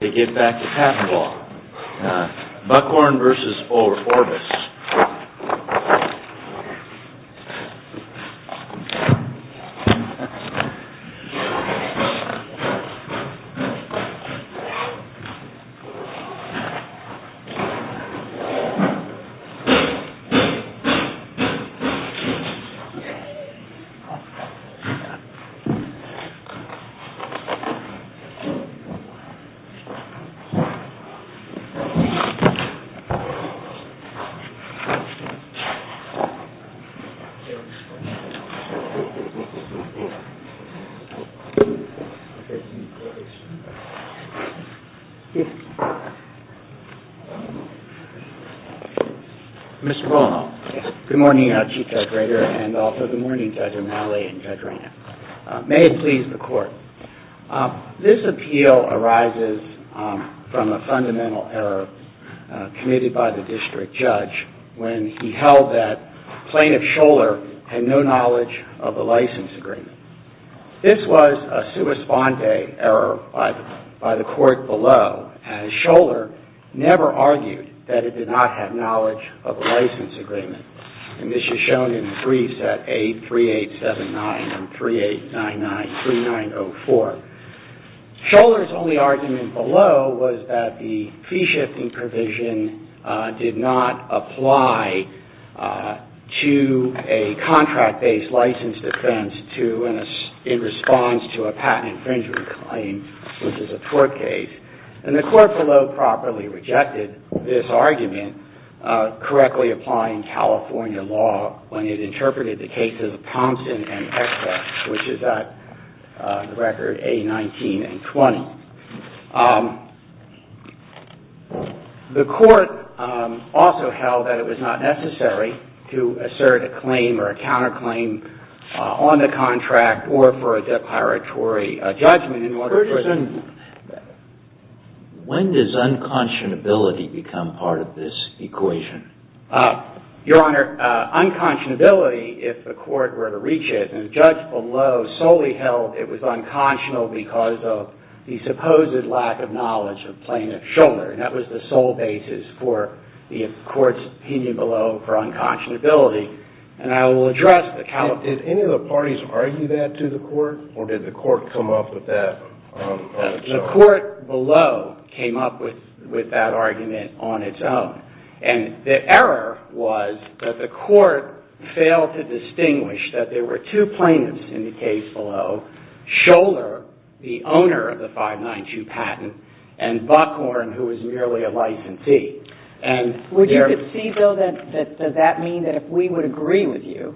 BUCKHORN INC. v. ORBIS BUCKHORN INC. v. ORBIS CORPORATION MR. ROLAND. Good morning, Chief Judge Rader and also good morning, Judge O'Malley and Judge Rader. May it please the Court, this appeal arises from a fundamental error committed by the District Judge when he held that Plaintiff Scholar had no knowledge of the license agreement. This was a sua sponde error by the Court below, as Scholar never argued that it did not have knowledge of the license agreement. And this is shown in the briefs at 83879 and 38993904. Scholar's only argument below was that the fee-shifting provision did not apply to a contract-based license defense in response to a patent infringement claim, which is a tort case. And the Court below properly rejected this argument, correctly applying California law when it interpreted the cases of Thompson and Express, which is at record A-19 and 20. The Court also held that it was not necessary to assert a claim or a counterclaim on the contract or for a depiratory judgment in order for it to be used. When does unconscionability become part of this equation? Your Honor, unconscionability, if the Court were to reach it, and the Judge below solely held it was unconscionable because of the supposed lack of knowledge of Plaintiff Scholar. And that was the sole basis for the Court's opinion below for unconscionability. And I will address the count. Did any of the parties argue that to the Court, or did the Court come up with that? The Court below came up with that argument on its own. And the error was that the Court failed to distinguish that there were two plaintiffs in the case below, Scholar, the owner of the 592 patent, and Buckhorn, who was merely a licensee. Would you concede, though, that does that mean that if we would agree with you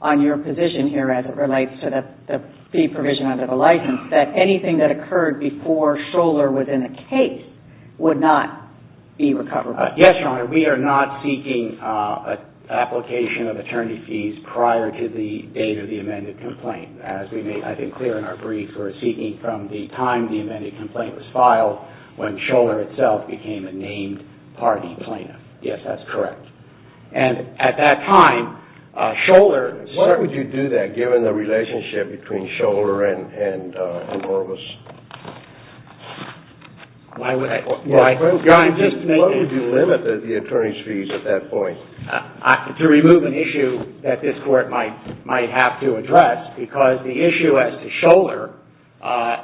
on your position here as it relates to the fee provision under the license, that anything that occurred before Scholar was in the case would not be recoverable? Yes, Your Honor, we are not seeking an application of attorney fees prior to the date of the amended complaint. As we made, I think, clear in our brief, we're seeking from the time the amended complaint was filed when Scholar itself became a named party plaintiff. Yes, that's correct. And at that time, Scholar... Why would you do that, given the relationship between Scholar and Horvitz? Why would I... What would you limit the attorney's fees at that point? To remove an issue that this Court might have to address, because the issue as to Scholar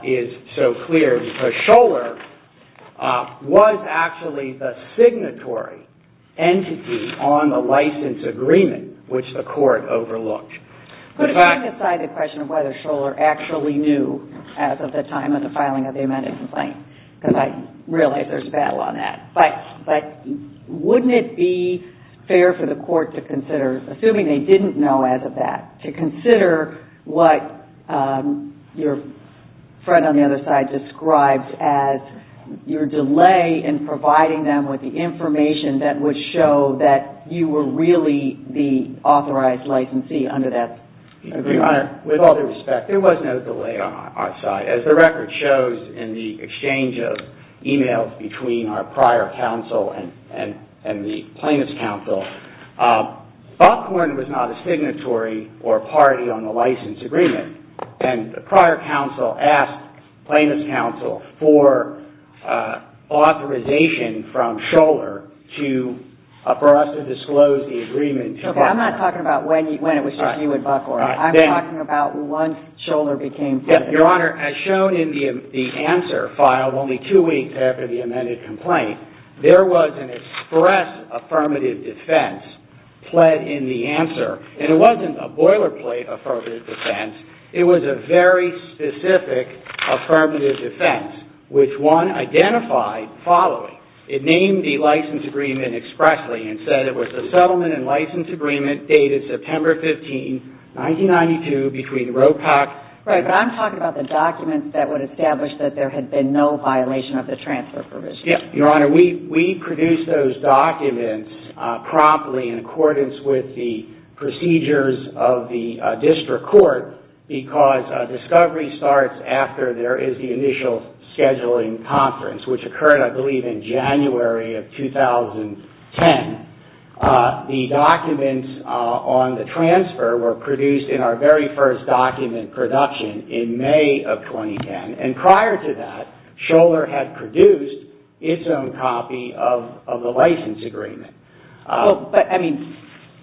is so clear, because Scholar was actually the signatory entity on the license agreement, which the Court overlooked. Putting aside the question of whether Scholar actually knew as of the time of the filing of the amended complaint, because I realize there's a battle on that, but wouldn't it be fair for the Court to consider, assuming they didn't know as of that, to consider what your friend on the other side described as your delay in providing them with the information that would show that you were really the authorized licensee under that agreement? With all due respect, there was no delay on our side. As the record shows in the exchange of e-mails between our prior counsel and the plaintiff's counsel, Buckhorn was not a signatory or a party on the license agreement, and the prior counsel asked plaintiff's counsel for authorization from Scholar for us to disclose the agreement. I'm not talking about when it was reviewed at Buckhorn. I'm talking about once Scholar became... Your Honor, as shown in the answer filed only two weeks after the amended complaint, there was an express affirmative defense pled in the answer, and it wasn't a boilerplate affirmative defense. It was a very specific affirmative defense, which one identified following. It named the license agreement expressly and said it was the settlement and license agreement dated September 15, 1992, Right, but I'm talking about the documents that would establish that there had been no violation of the transfer provision. Yes, Your Honor. We produced those documents promptly in accordance with the procedures of the district court because discovery starts after there is the initial scheduling conference, which occurred, I believe, in January of 2010. The documents on the transfer were produced in our very first document production in May of 2010, and prior to that, Scholar had produced its own copy of the license agreement. But, I mean,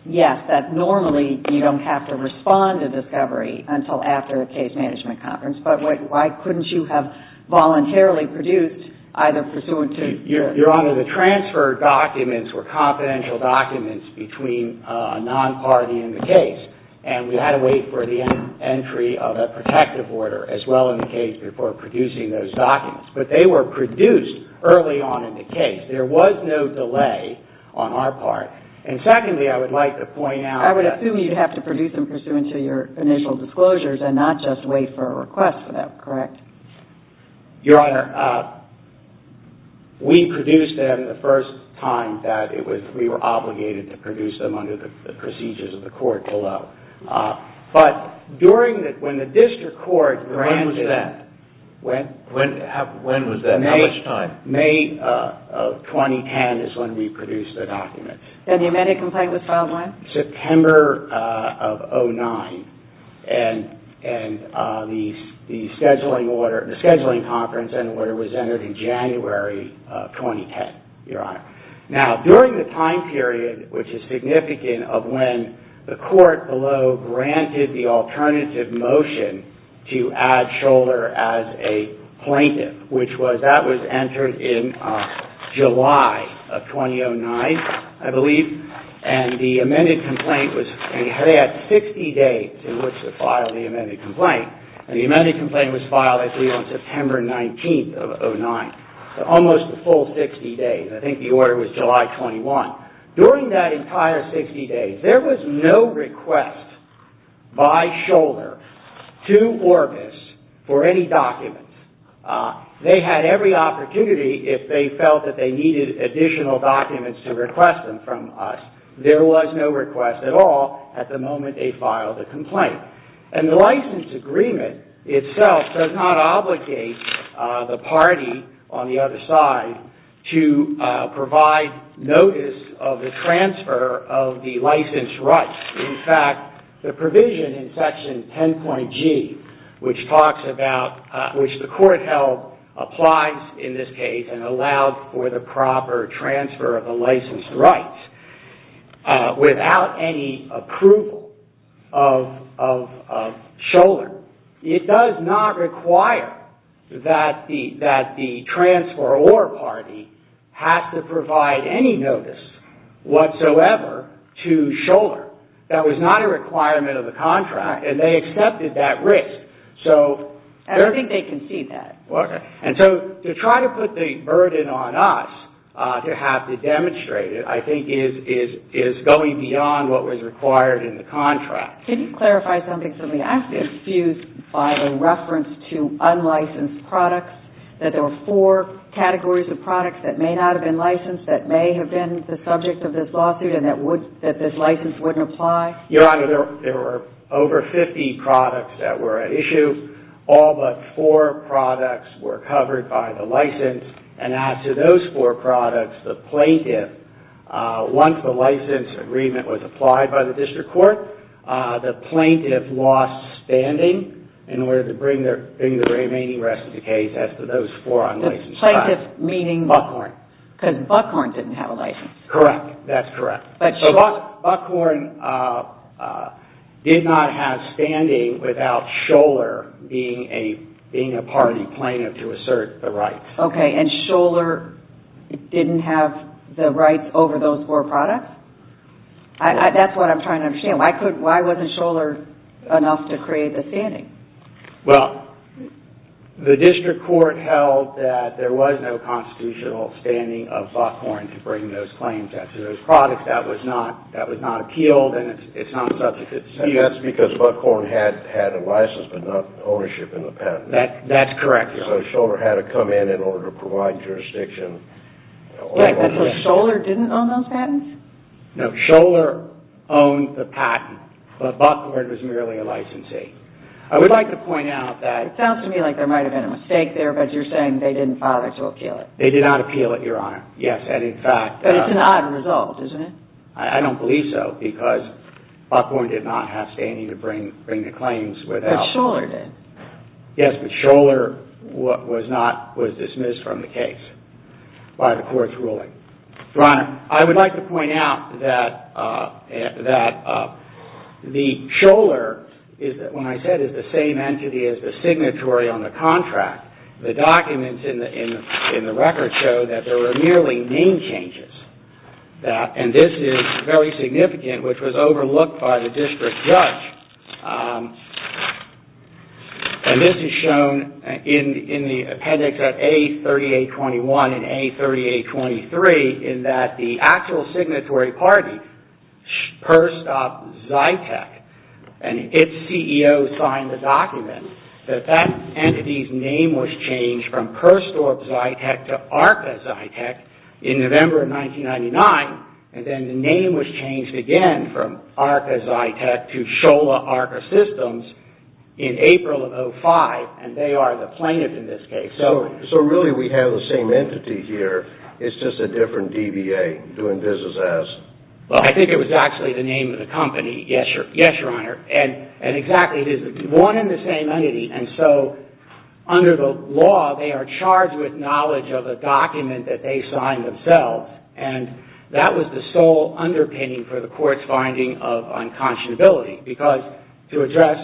yes, that normally you don't have to respond to discovery until after a case management conference, but why couldn't you have voluntarily produced either pursuant to... Your Honor, the transfer documents were confidential documents between a non-party in the case, and we had to wait for the entry of a protective order as well in the case before producing those documents. But they were produced early on in the case. There was no delay on our part. And secondly, I would like to point out... I would assume you'd have to produce them pursuant to your initial disclosures and not just wait for a request for that, correct? Your Honor, we produced them the first time that we were obligated to produce them under the procedures of the court below. But when the district court... When was that? When was that? How much time? May of 2010 is when we produced the documents. And the amended complaint was filed when? September of 2009. And the scheduling order... The scheduling conference and order was entered in January of 2010, Your Honor. Now, during the time period, which is significant, of when the court below granted the alternative motion to add Scholler as a plaintiff, which was... That was entered in July of 2009, I believe. And the amended complaint was... They had 60 days in which to file the amended complaint. And the amended complaint was filed, I believe, on September 19th of 2009. So almost a full 60 days. I think the order was July 21. During that entire 60 days, there was no request by Scholler to Orbis for any documents. They had every opportunity if they felt that they needed additional documents to request them from us. There was no request at all at the moment they filed the complaint. And the license agreement itself does not obligate the party on the other side to provide notice of the transfer of the license rights. In fact, the provision in Section 10.G, which talks about... applies in this case and allows for the proper transfer of the license rights without any approval of Scholler, it does not require that the transferor party has to provide any notice whatsoever to Scholler. That was not a requirement of the contract. And they accepted that risk. I don't think they conceded that. And so to try to put the burden on us to have to demonstrate it, I think is going beyond what was required in the contract. Can you clarify something for me? I'm confused by the reference to unlicensed products, that there were four categories of products that may not have been licensed that may have been the subject of this lawsuit and that this license wouldn't apply. Your Honor, there were over 50 products that were at issue. All but four products were covered by the license. And as to those four products, the plaintiff, once the license agreement was applied by the district court, the plaintiff lost standing in order to bring the remaining rest of the case, as to those four unlicensed products. The plaintiff meaning... Buckhorn. Because Buckhorn didn't have a license. Correct. That's correct. So Buckhorn did not have standing without Scholar being a party plaintiff to assert the rights. Okay. And Scholar didn't have the rights over those four products? That's what I'm trying to understand. Why wasn't Scholar enough to create the standing? Well, the district court held that there was no constitutional standing of Buckhorn to bring those claims out to those products. That was not appealed, and it's not subject to the statute. That's because Buckhorn had a license but not ownership in the patent. That's correct. So Scholar had to come in in order to provide jurisdiction. So Scholar didn't own those patents? No. Scholar owned the patent, but Buckhorn was merely a licensee. I would like to point out that... It sounds to me like there might have been a mistake there, but you're saying they didn't file it to appeal it. They did not appeal it, Your Honor. Yes, and in fact... But it's an odd result, isn't it? I don't believe so, because Buckhorn did not have standing to bring the claims without... But Scholar did. Yes, but Scholar was dismissed from the case by the court's ruling. Your Honor, I would like to point out that the Scholar, when I said, is the same entity as the signatory on the contract, the documents in the record show that there were merely name changes. And this is very significant, which was overlooked by the district judge. And this is shown in the appendix at A3821 and A3823, in that the actual signatory party, Perstorp-Zytec, and its CEO signed the document that that entity's name was changed from Perstorp-Zytec to Arca-Zytec in November of 1999, and then the name was changed again from Arca-Zytec to Scholar Arca Systems in April of 2005, and they are the plaintiff in this case. So really, we have the same entity here. It's just a different DBA doing business as... Well, I think it was actually the name of the company, yes, Your Honor. And exactly, it is one and the same entity, and so under the law, they are charged with knowledge of a document that they signed themselves, and that was the sole underpinning for the court's finding of unconscionability, because to address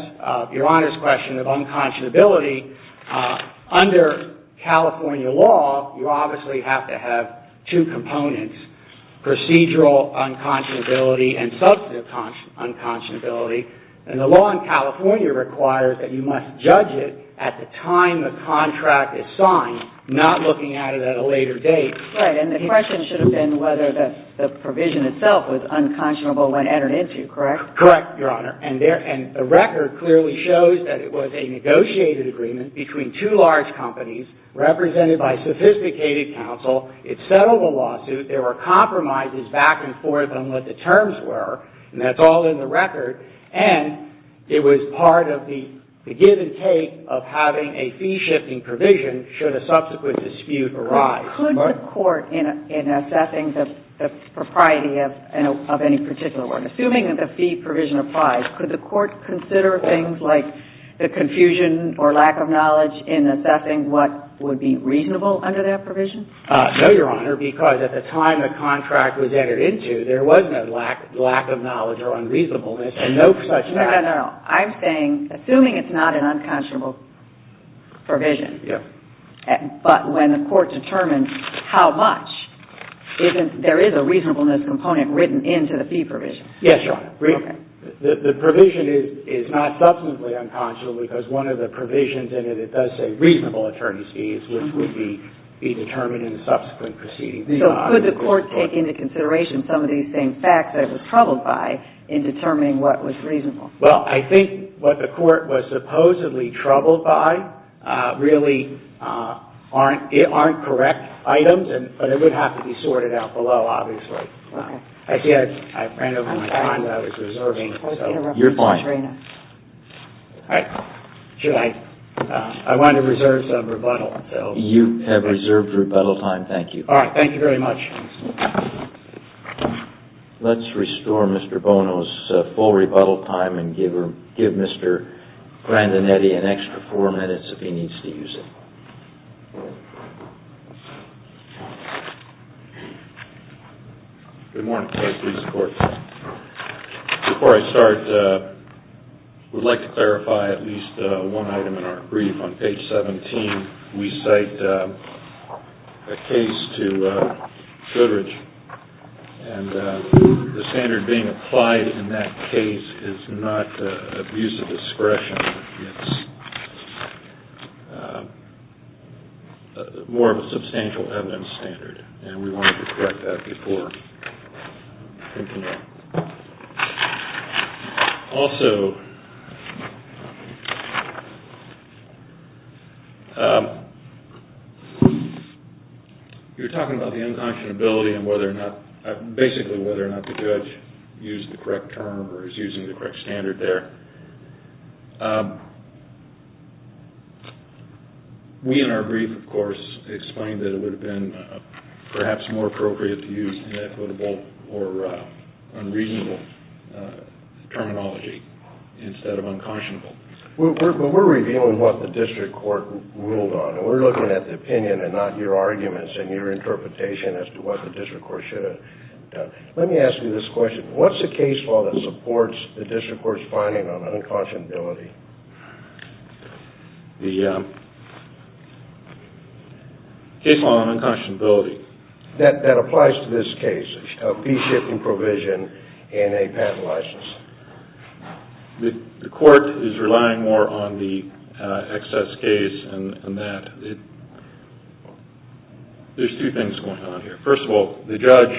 Your Honor's question of unconscionability, under California law, you obviously have to have two components, procedural unconscionability and substantive unconscionability, and the law in California requires that you must judge it at the time the contract is signed, not looking at it at a later date. Right, and the question should have been whether the provision itself was unconscionable when entered into, correct? Correct, Your Honor, and the record clearly shows that it was a negotiated agreement between two large companies represented by sophisticated counsel. It settled the lawsuit. There were compromises back and forth on what the terms were, and that's all in the record, and it was part of the give and take of having a fee-shifting provision should a subsequent dispute arise. Could the court, in assessing the propriety of any particular one, assuming that the fee provision applies, could the court consider things like the confusion or lack of knowledge in assessing what would be reasonable under that provision? No, Your Honor, because at the time the contract was entered into, there was no lack of knowledge or unreasonableness and no such fact. No, no, no. I'm saying, assuming it's not an unconscionable provision, but when the court determines how much, there is a reasonableness component written into the fee provision. Yes, Your Honor. The provision is not substantively unconscionable because one of the provisions in it, it does say reasonable attorney's fees, which would be determined in a subsequent proceeding. So could the court take into consideration some of these same facts that it was troubled by in determining what was reasonable? Well, I think what the court was supposedly troubled by really aren't correct items, but it would have to be sorted out below, obviously. I see I ran over my time. I was reserving. You're fine. I wanted to reserve some rebuttal. You have reserved rebuttal time. Thank you. Thank you very much. Let's restore Mr. Bono's full rebuttal time and give Mr. Grandinetti an extra four minutes if he needs to use it. Good morning. Please support this. Before I start, I would like to clarify at least one item in our brief. On page 17, we cite a case to Goodridge, and the standard being applied in that case is not abuse of discretion. It's more of a substantial evidence standard, and we wanted to correct that before. Also, you were talking about the unconscionability and basically whether or not the judge used the correct term or is using the correct standard there. We, in our brief, of course, explained that it would have been perhaps more appropriate to use inequitable or unreasonable terminology instead of unconscionable. We're reviewing what the district court ruled on, and we're looking at the opinion and not your arguments and your interpretation as to what the district court should have done. Let me ask you this question. What's a case law that supports the district court's finding on unconscionability The case law on unconscionability. That applies to this case, a fee-shipping provision and a patent license. The court is relying more on the excess case and that. There's two things going on here. First of all, the judge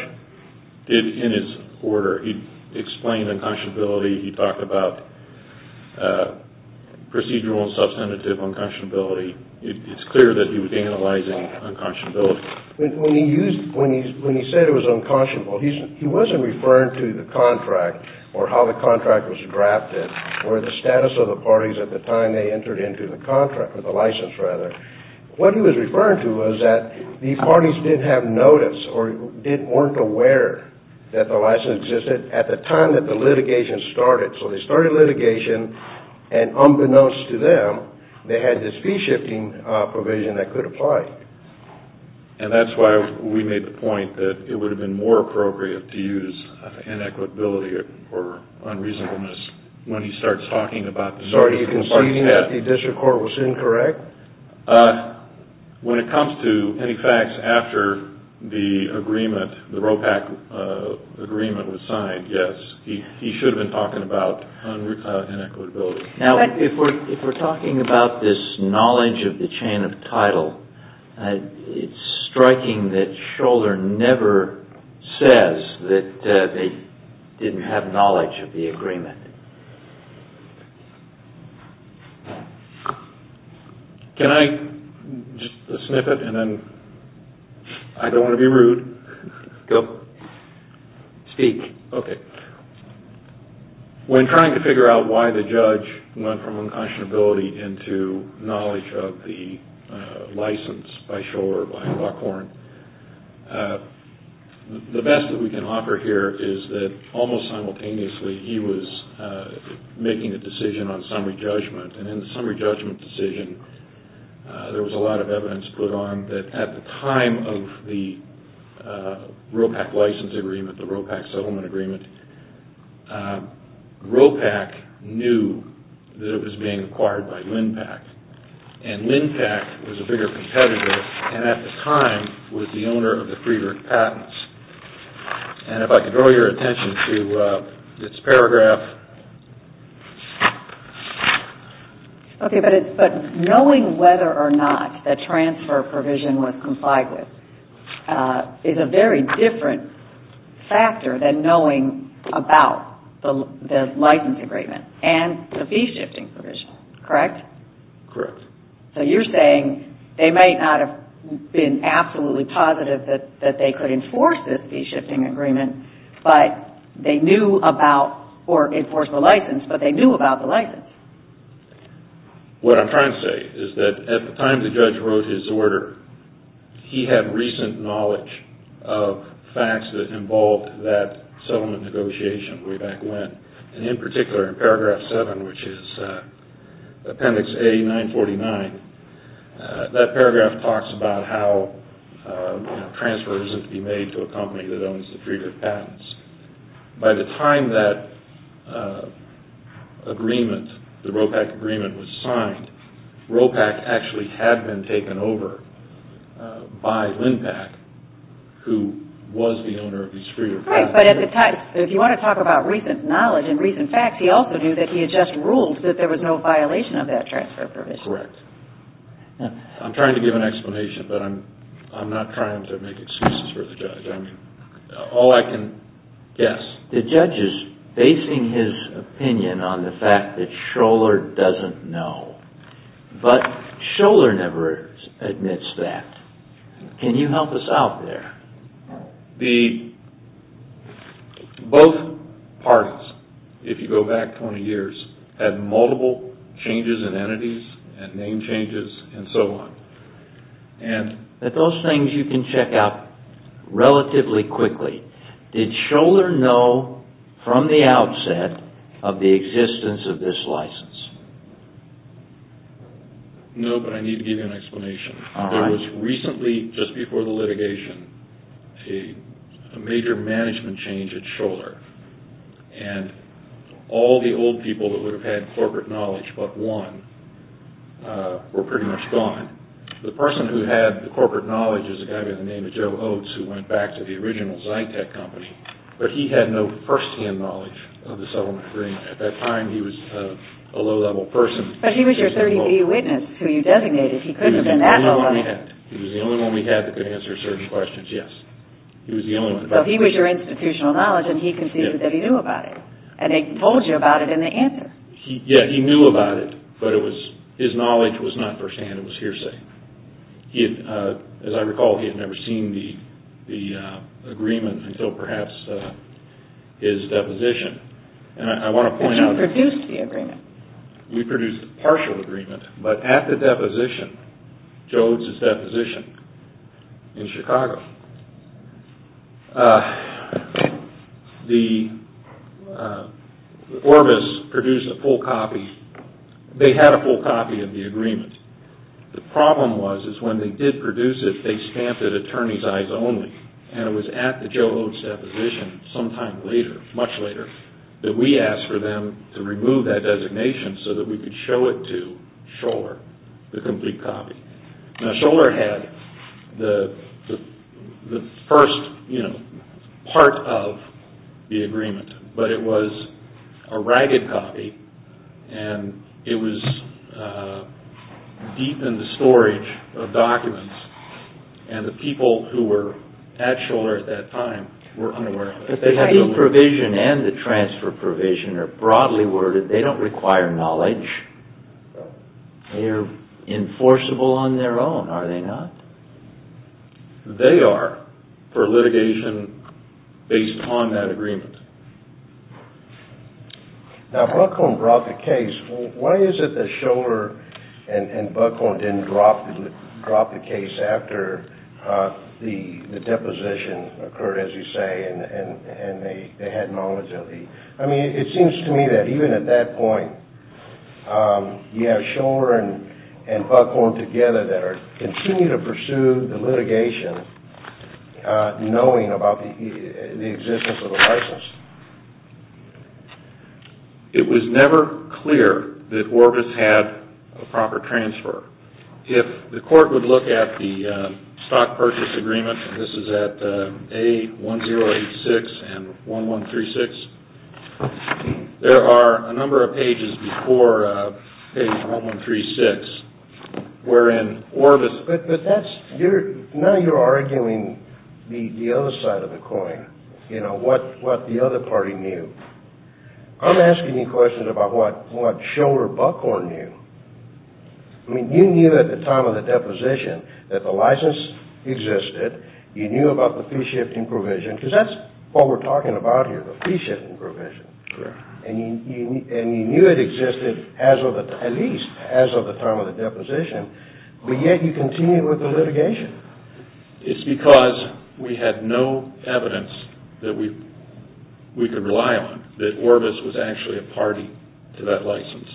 did, in his order, he explained unconscionability. He talked about procedural and substantive unconscionability. It's clear that he was analyzing unconscionability. When he said it was unconscionable, he wasn't referring to the contract or how the contract was drafted or the status of the parties at the time they entered into the contract, or the license, rather. What he was referring to was that the parties didn't have notice or weren't aware that the license existed at the time that the litigation started. So they started litigation, and unbeknownst to them, they had this fee-shifting provision that could apply. And that's why we made the point that it would have been more appropriate to use inequitability or unreasonableness when he starts talking about this. So are you conceding that the district court was incorrect? When it comes to any facts after the agreement, the ROPAC agreement was signed, yes. He should have been talking about inequitability. Now, if we're talking about this knowledge of the chain of title, it's striking that Scholder never says that they didn't have knowledge of the agreement. Can I, just a snippet, and then, I don't want to be rude. Go. Speak. Okay. When trying to figure out why the judge went from unconscionability into knowledge of the license by Scholder or by Lockhorn, the best that we can offer here is that, almost simultaneously, he was making a decision on summary judgment. And in the summary judgment decision, there was a lot of evidence put on that, at the time of the ROPAC license agreement, the ROPAC settlement agreement, ROPAC knew that it was being acquired by LINPAC. And LINPAC was a bigger competitor and, at the time, was the owner of the Friedrich patents. And if I could draw your attention to this paragraph. Okay, but knowing whether or not the transfer provision was complied with is a very different factor than knowing about the license agreement and the fee shifting provision, correct? Correct. So you're saying they may not have been absolutely positive that they could enforce this fee shifting agreement, but they knew about, or enforce the license, but they knew about the license. What I'm trying to say is that, at the time the judge wrote his order, he had recent knowledge of facts that involved that settlement negotiation way back when. And in particular, in paragraph 7, which is appendix A-949, that paragraph talks about how a transfer isn't to be made to a company that owns the Friedrich patents. By the time that agreement, the ROPAC agreement, was signed, ROPAC actually had been taken over by LINPAC, who was the owner of these Friedrich patents. Right, but at the time, if you want to talk about recent knowledge and recent facts, he also knew that he had just ruled that there was no violation of that transfer provision. Correct. I'm trying to give an explanation, but I'm not trying to make excuses for the judge. I mean, all I can guess... The judge is basing his opinion on the fact that Scholar doesn't know, but Scholar never admits that. Can you help us out there? Both parties, if you go back 20 years, had multiple changes in entities, and name changes, and so on. Those things you can check out relatively quickly. Did Scholar know from the outset of the existence of this license? No, but I need to give you an explanation. There was recently, just before the litigation, a major management change at Scholar, and all the old people that would have had corporate knowledge but one, were pretty much gone. The person who had the corporate knowledge is a guy by the name of Joe Oates, who went back to the original Zytec company. But he had no first-hand knowledge of the settlement agreement. At that time, he was a low-level person. But he was your 30B witness, who you designated. He couldn't have been that low-level. He was the only one we had. He was the only one we had that could answer certain questions, yes. He was the only one. So he was your institutional knowledge, and he conceded that he knew about it. And he told you about it in the answer. Yeah, he knew about it, but his knowledge was not first-hand. It was hearsay. As I recall, he had never seen the agreement until perhaps his deposition. And I want to point out— Because you produced the agreement. We produced the partial agreement. But at the deposition, Joe Oates' deposition in Chicago, Orbis produced a full copy. They had a full copy of the agreement. The problem was is when they did produce it, they stamped it attorney's eyes only. And it was at the Joe Oates' deposition sometime later, much later, that we asked for them to remove that designation so that we could show it to Scholar, the complete copy. Now, Scholar had the first part of the agreement. But it was a ragged copy. And it was deep in the storage of documents. And the people who were at Scholar at that time were unaware of it. But the heavy provision and the transfer provision are broadly worded. They don't require knowledge. They are enforceable on their own, are they not? They are for litigation based on that agreement. Now, Buckhorn brought the case. Why is it that Scholar and Buckhorn didn't drop the case after the deposition occurred, as you say, and they had no agility? I mean, it seems to me that even at that point, you have Scholar and Buckhorn together that are continuing to pursue the litigation, knowing about the existence of a license. It was never clear that Orbis had a proper transfer. If the court would look at the stock purchase agreement, this is at A1086 and 1136, there are a number of pages before page 1136 wherein Orbis – Now you're arguing the other side of the coin, you know, what the other party knew. I'm asking you questions about what Scholar and Buckhorn knew. I mean, you knew at the time of the deposition that the license existed. You knew about the fee-shifting provision, because that's what we're talking about here, the fee-shifting provision. And you knew it existed at least as of the time of the deposition. But yet you continued with the litigation. It's because we had no evidence that we could rely on that Orbis was actually a party to that license.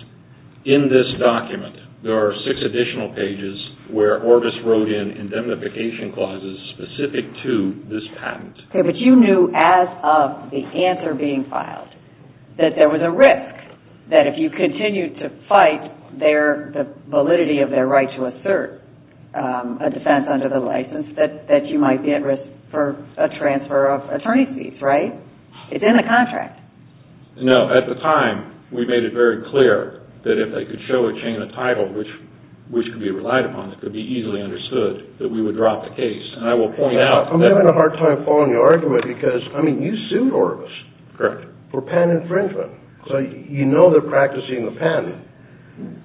In this document, there are six additional pages where Orbis wrote in indemnification clauses specific to this patent. Okay, but you knew as of the answer being filed that there was a risk that if you continued to fight their – if you tried to assert a defense under the license that you might be at risk for a transfer of attorney's fees, right? It's in the contract. No, at the time, we made it very clear that if they could show a chain of title which could be relied upon, it could be easily understood that we would drop the case. And I will point out – I'm having a hard time following your argument because, I mean, you sued Orbis for patent infringement. So you know they're practicing the patent.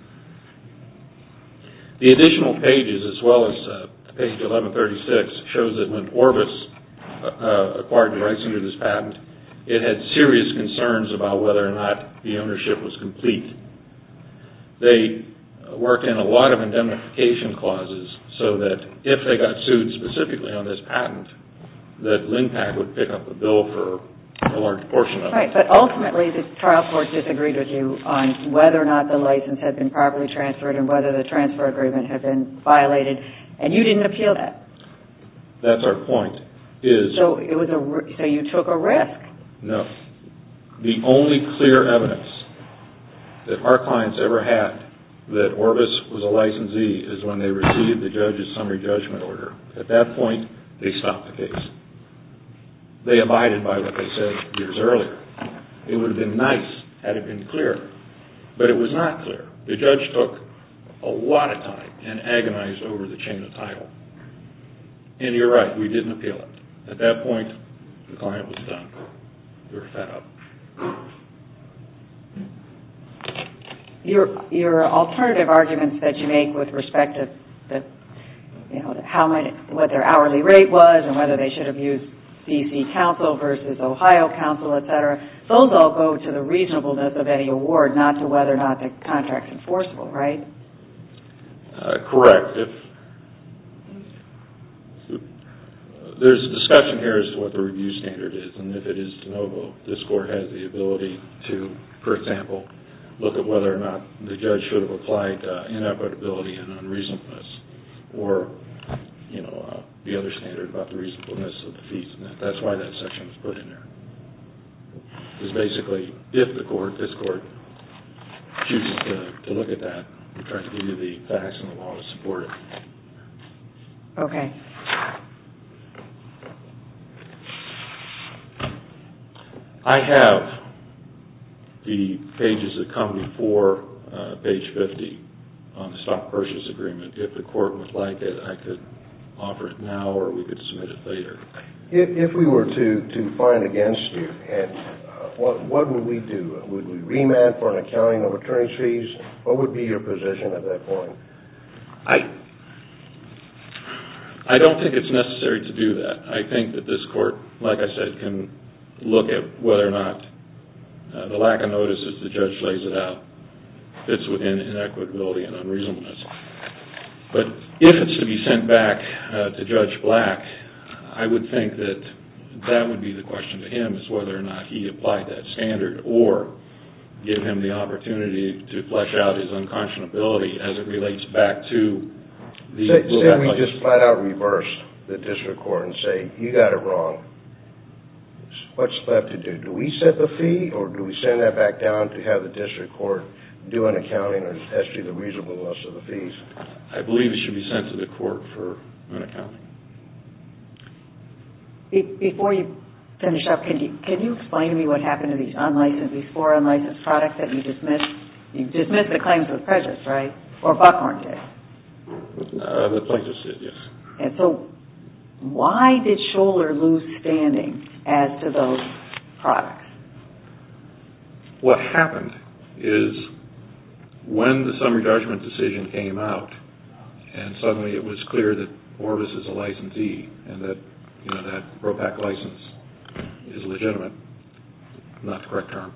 The additional pages, as well as page 1136, shows that when Orbis acquired the rights under this patent, it had serious concerns about whether or not the ownership was complete. They worked in a lot of indemnification clauses so that if they got sued specifically on this patent, that LINPAC would pick up the bill for a large portion of it. Right. But ultimately, the trial court disagreed with you on whether or not the license had been properly transferred and whether the transfer agreement had been violated. And you didn't appeal that. That's our point. So you took a risk. No. The only clear evidence that our clients ever had that Orbis was a licensee is when they received the judge's summary judgment order. At that point, they stopped the case. They abided by what they said years earlier. It would have been nice had it been clear. But it was not clear. The judge took a lot of time and agonized over the chain of title. And you're right. We didn't appeal it. At that point, the client was done. They were fed up. Your alternative arguments that you make with respect to what their hourly rate was and whether they should have used D.C. counsel versus Ohio counsel, etc., those all go to the reasonableness of any award, not to whether or not the contract is enforceable, right? Correct. There's a discussion here as to what the review standard is. And if it is de novo, this court has the ability to, for example, look at whether or not the judge should have applied inevitability and unreasonableness or the other standard about the reasonableness of the fees. That's why that section was put in there. It's basically if this court chooses to look at that, we try to give you the facts and the law to support it. Okay. I have the pages that come before page 50 on the stock purchase agreement. If the court would like it, I could offer it now or we could submit it later. If we were to fine against you, what would we do? Would we remand for an accounting of attorney's fees? What would be your position at that point? I don't think it's necessary to do that. I think that this court, like I said, can look at whether or not the lack of notice as the judge lays it out, fits within inequitability and unreasonableness. But if it's to be sent back to Judge Black, I would think that that would be the question to him, is whether or not he applied that standard or give him the opportunity to flesh out his unconscionability Instead we just flat out reverse the district court and say, you got it wrong. What's left to do? Do we set the fee or do we send that back down to have the district court do an accounting and test you the reasonableness of the fees? I believe it should be sent to the court for an accounting. Before you finish up, can you explain to me what happened to these four unlicensed products that you dismissed? You dismissed the claims of Precious, right? Or Buckhorn did? The Precious did, yes. Why did Scholar lose standing as to those products? What happened is when the summary judgment decision came out and suddenly it was clear that Orvis is a licensee and that that ROPAC license is legitimate, not the correct term,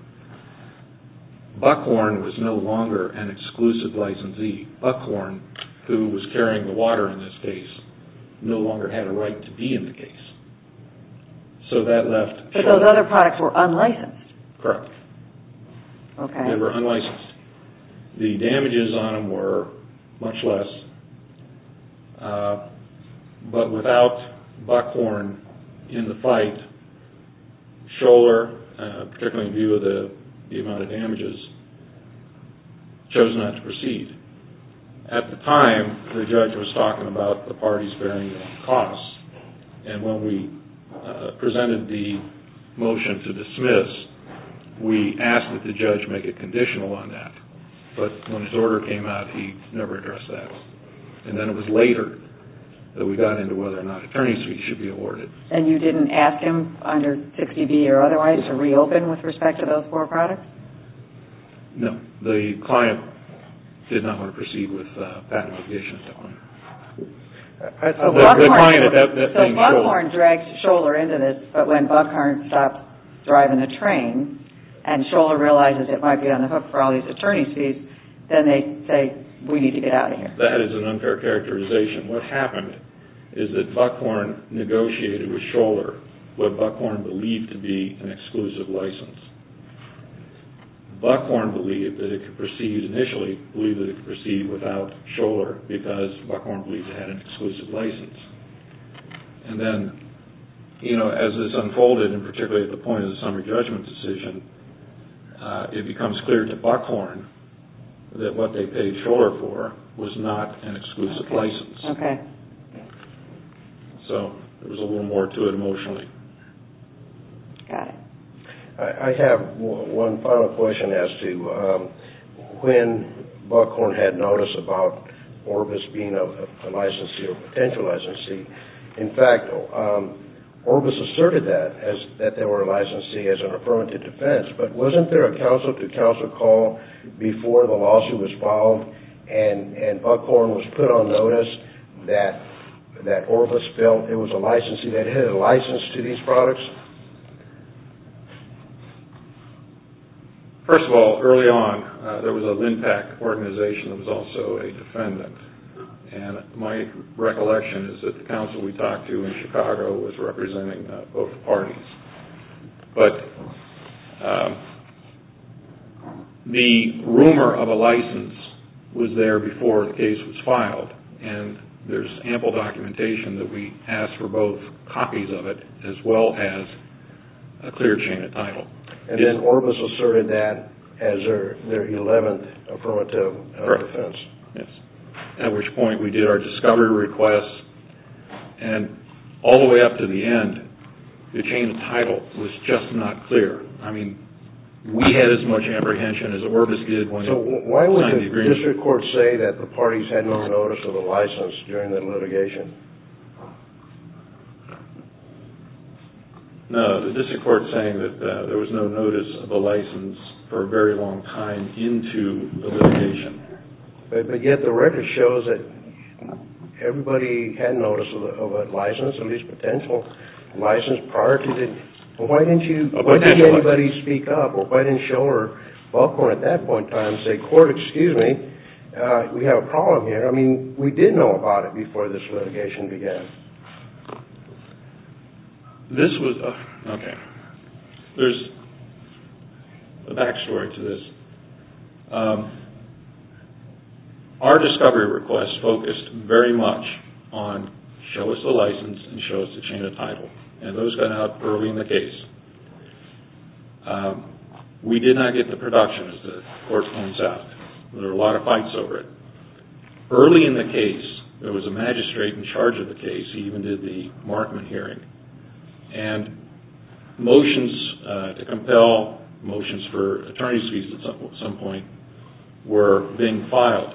Buckhorn was no longer an exclusive licensee. Buckhorn, who was carrying the water in this case, no longer had a right to be in the case. So that left... So those other products were unlicensed? Correct. They were unlicensed. The damages on them were much less, but without Buckhorn in the fight, Scholar, particularly in view of the amount of damages, chose not to proceed. At the time, the judge was talking about the parties bearing costs, and when we presented the motion to dismiss, we asked that the judge make it conditional on that. But when his order came out, he never addressed that. And then it was later that we got into whether or not attorney's fees should be awarded. And you didn't ask him, under 60B or otherwise, to reopen with respect to those four products? No. The client did not want to proceed with patent litigation. So Buckhorn dragged Scholar into this, but when Buckhorn stopped driving the train and Scholar realizes it might be on the hook for all these attorney's fees, then they say, we need to get out of here. That is an unfair characterization. What happened is that Buckhorn negotiated with Scholar what Buckhorn believed to be an exclusive license. Buckhorn, initially, believed that it could proceed without Scholar because Buckhorn believed it had an exclusive license. And then, as this unfolded, particularly at the point of the summary judgment decision, it becomes clear to Buckhorn that what they paid Scholar for was not an exclusive license. Okay. So there was a little more to it emotionally. Got it. I have one final question as to when Buckhorn had notice about Orbis being a licensee or potential licensee. In fact, Orbis asserted that they were a licensee as an affirmative defense, but wasn't there a counsel-to-counsel call before the lawsuit was filed and Buckhorn was put on notice that Orbis felt it was a licensee that had a license to these products? First of all, early on, there was a LINPAC organization that was also a defendant. And my recollection is that the counsel we talked to in Chicago was representing both parties. But the rumor of a license was there before the case was filed, and there's ample documentation that we asked for both copies of it as well as a clear chain of title. And then Orbis asserted that as their 11th affirmative defense. Correct. Yes. At which point we did our discovery requests. And all the way up to the end, the chain of title was just not clear. I mean, we had as much apprehension as Orbis did when they signed the agreement. So why would the district court say that the parties had no notice of a license during the litigation? No, the district court saying that there was no notice of a license for a very long time into the litigation. But yet the record shows that everybody had notice of a license, at least potential license, prior to the... Why didn't anybody speak up? Why didn't Schoeller or Buckler at that point in time say, Court, excuse me, we have a problem here. I mean, we did know about it before this litigation began. There's a back story to this. Our discovery requests focused very much on show us the license and show us the chain of title. And those got out early in the case. We did not get the production as the court found out. There were a lot of fights over it. Early in the case, there was a magistrate in charge of the case. He even did the Markman hearing. And motions to compel, motions for attorney's fees at some point, were being filed.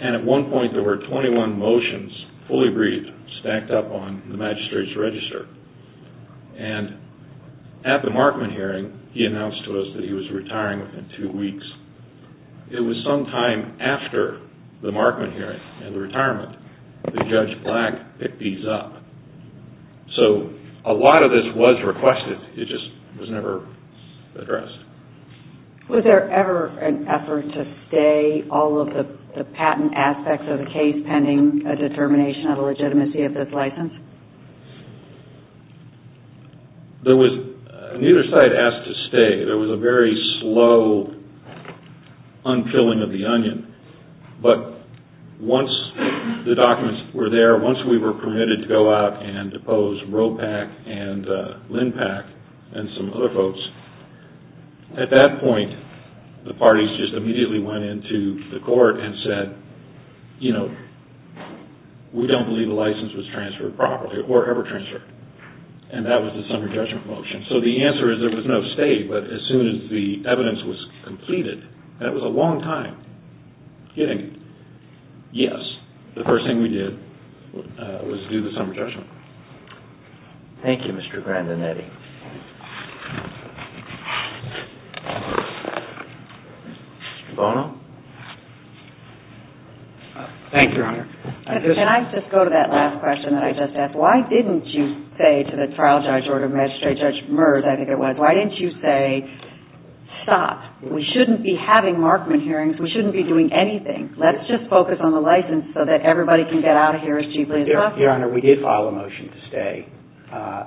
And at one point, there were 21 motions, fully briefed, stacked up on the magistrate's register. And at the Markman hearing, he announced to us that he was retiring within two weeks. It was sometime after the Markman hearing and the retirement that Judge Black picked these up. So, a lot of this was requested. It just was never addressed. Was there ever an effort to stay all of the patent aspects of the case pending a determination of the legitimacy of this license? Neither side asked to stay. There was a very slow unfilling of the onion. But once the documents were there, once we were permitted to go out and depose Ropak and Lindpak and some other folks, at that point, the parties just immediately went into the court and said, you know, we don't believe the license was transferred properly or ever transferred. And that was this under-judgment motion. So, the answer is there was no stay. But as soon as the evidence was completed, that was a long time. Yes, the first thing we did was do the summer judgment. Thank you, Mr. Grandinetti. Mr. Bono? Thank you, Your Honor. Can I just go to that last question that I just asked? Why didn't you say to the trial judge or to magistrate judge Merz, I think it was, why didn't you say, stop, we shouldn't be having Markman hearings, we shouldn't be doing anything, let's just focus on the license so that everybody can get out of here as cheaply as possible? Your Honor, we did file a motion to stay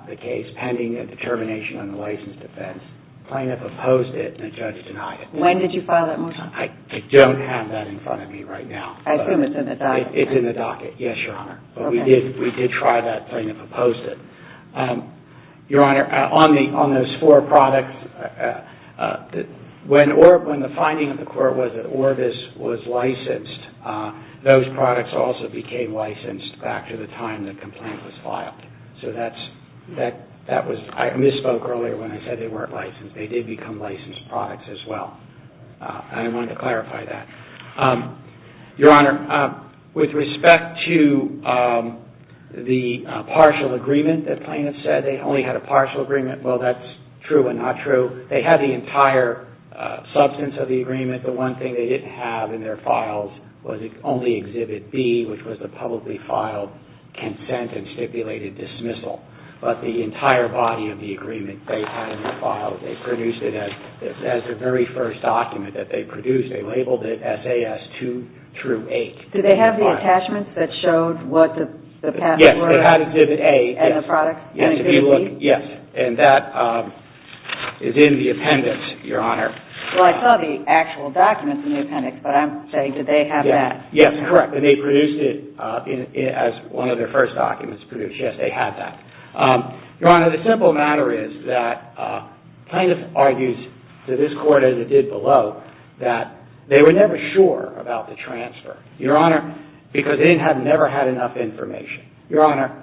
the case, pending a determination on the license defense. Plaintiff opposed it and the judge denied it. When did you file that motion? I don't have that in front of me right now. I assume it's in the docket. It's in the docket, yes, Your Honor. Okay. But we did try that, plaintiff opposed it. Your Honor, on those four products, when the finding of the court was that Orbis was licensed, those products also became licensed back to the time the complaint was filed. So that was, I misspoke earlier when I said they weren't licensed. They did become licensed products as well. I wanted to clarify that. Your Honor, with respect to the partial agreement that plaintiff said, they only had a partial agreement, well, that's true and not true. They had the entire substance of the agreement. The one thing they didn't have in their files was only Exhibit B, which was the publicly filed consent and stipulated dismissal. But the entire body of the agreement they had in their files, they produced it as the very first document that they produced. They labeled it SAS 2-8. Did they have the attachments that showed what the patents were? And the products, and Exhibit B? Exhibit B, yes. And that is in the appendix, Your Honor. Well, I saw the actual documents in the appendix, but I'm saying did they have that? Yes, correct. And they produced it as one of their first documents produced. Yes, they had that. Your Honor, the simple matter is that plaintiff argues to this court, as it did below, that they were never sure about the transfer, Your Honor, because they had never had enough information. Your Honor,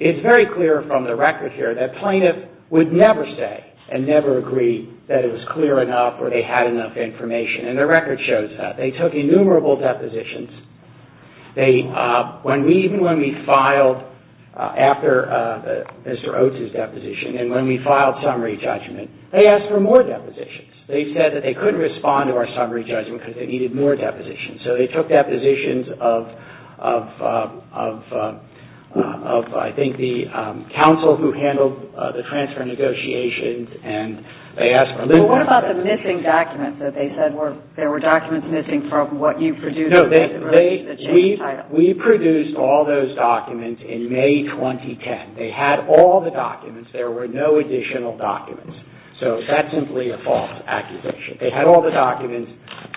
it's very clear from the record here that plaintiff would never say and never agree that it was clear enough or they had enough information. And the record shows that. They took innumerable depositions. Even when we filed after Mr. Oates' deposition, and when we filed summary judgment, they asked for more depositions. They said that they couldn't respond to our summary judgment because they needed more depositions. So they took depositions of, I think, the counsel who handled the transfer negotiations, and they asked for a little more. Well, what about the missing documents that they said were, there were documents missing from what you produced? No, they, we produced all those documents in May 2010. They had all the documents. There were no additional documents. So that's simply a false accusation. They had all the documents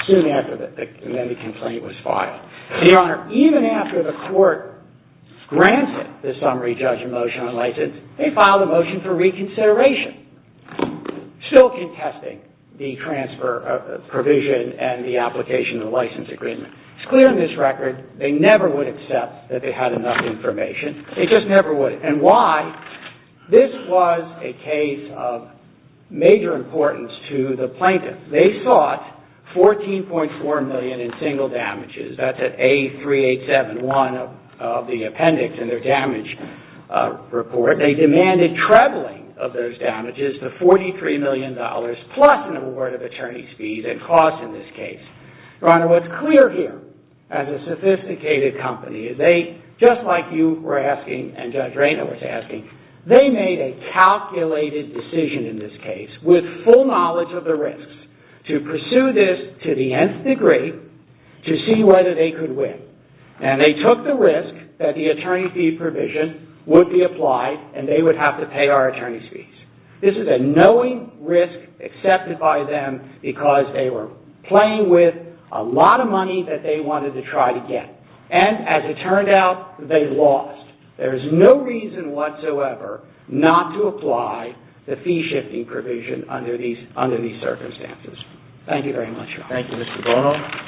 soon after the complaint was filed. Your Honor, even after the court granted the summary judgment motion on license, they filed a motion for reconsideration, still contesting the transfer provision and the application of the license agreement. It's clear in this record they never would accept that they had enough information. They just never would. And why? This was a case of major importance to the plaintiff. They sought $14.4 million in single damages. That's at A3871 of the appendix in their damage report. They demanded trebling of those damages to $43 million, plus an award of attorney's fees and costs in this case. Your Honor, what's clear here, as a sophisticated company, they, just like you were asking and Judge Raynor was asking, they made a calculated decision in this case with full knowledge of the risks to pursue this to the nth degree to see whether they could win. And they took the risk that the attorney fee provision would be applied and they would have to pay our attorney's fees. This is a knowing risk accepted by them because they were playing with a lot of money that they wanted to try to get. And as it turned out, they lost. There's no reason whatsoever not to apply the fee-shifting provision under these circumstances. Thank you very much, Your Honor. Thank you, Mr. Bono.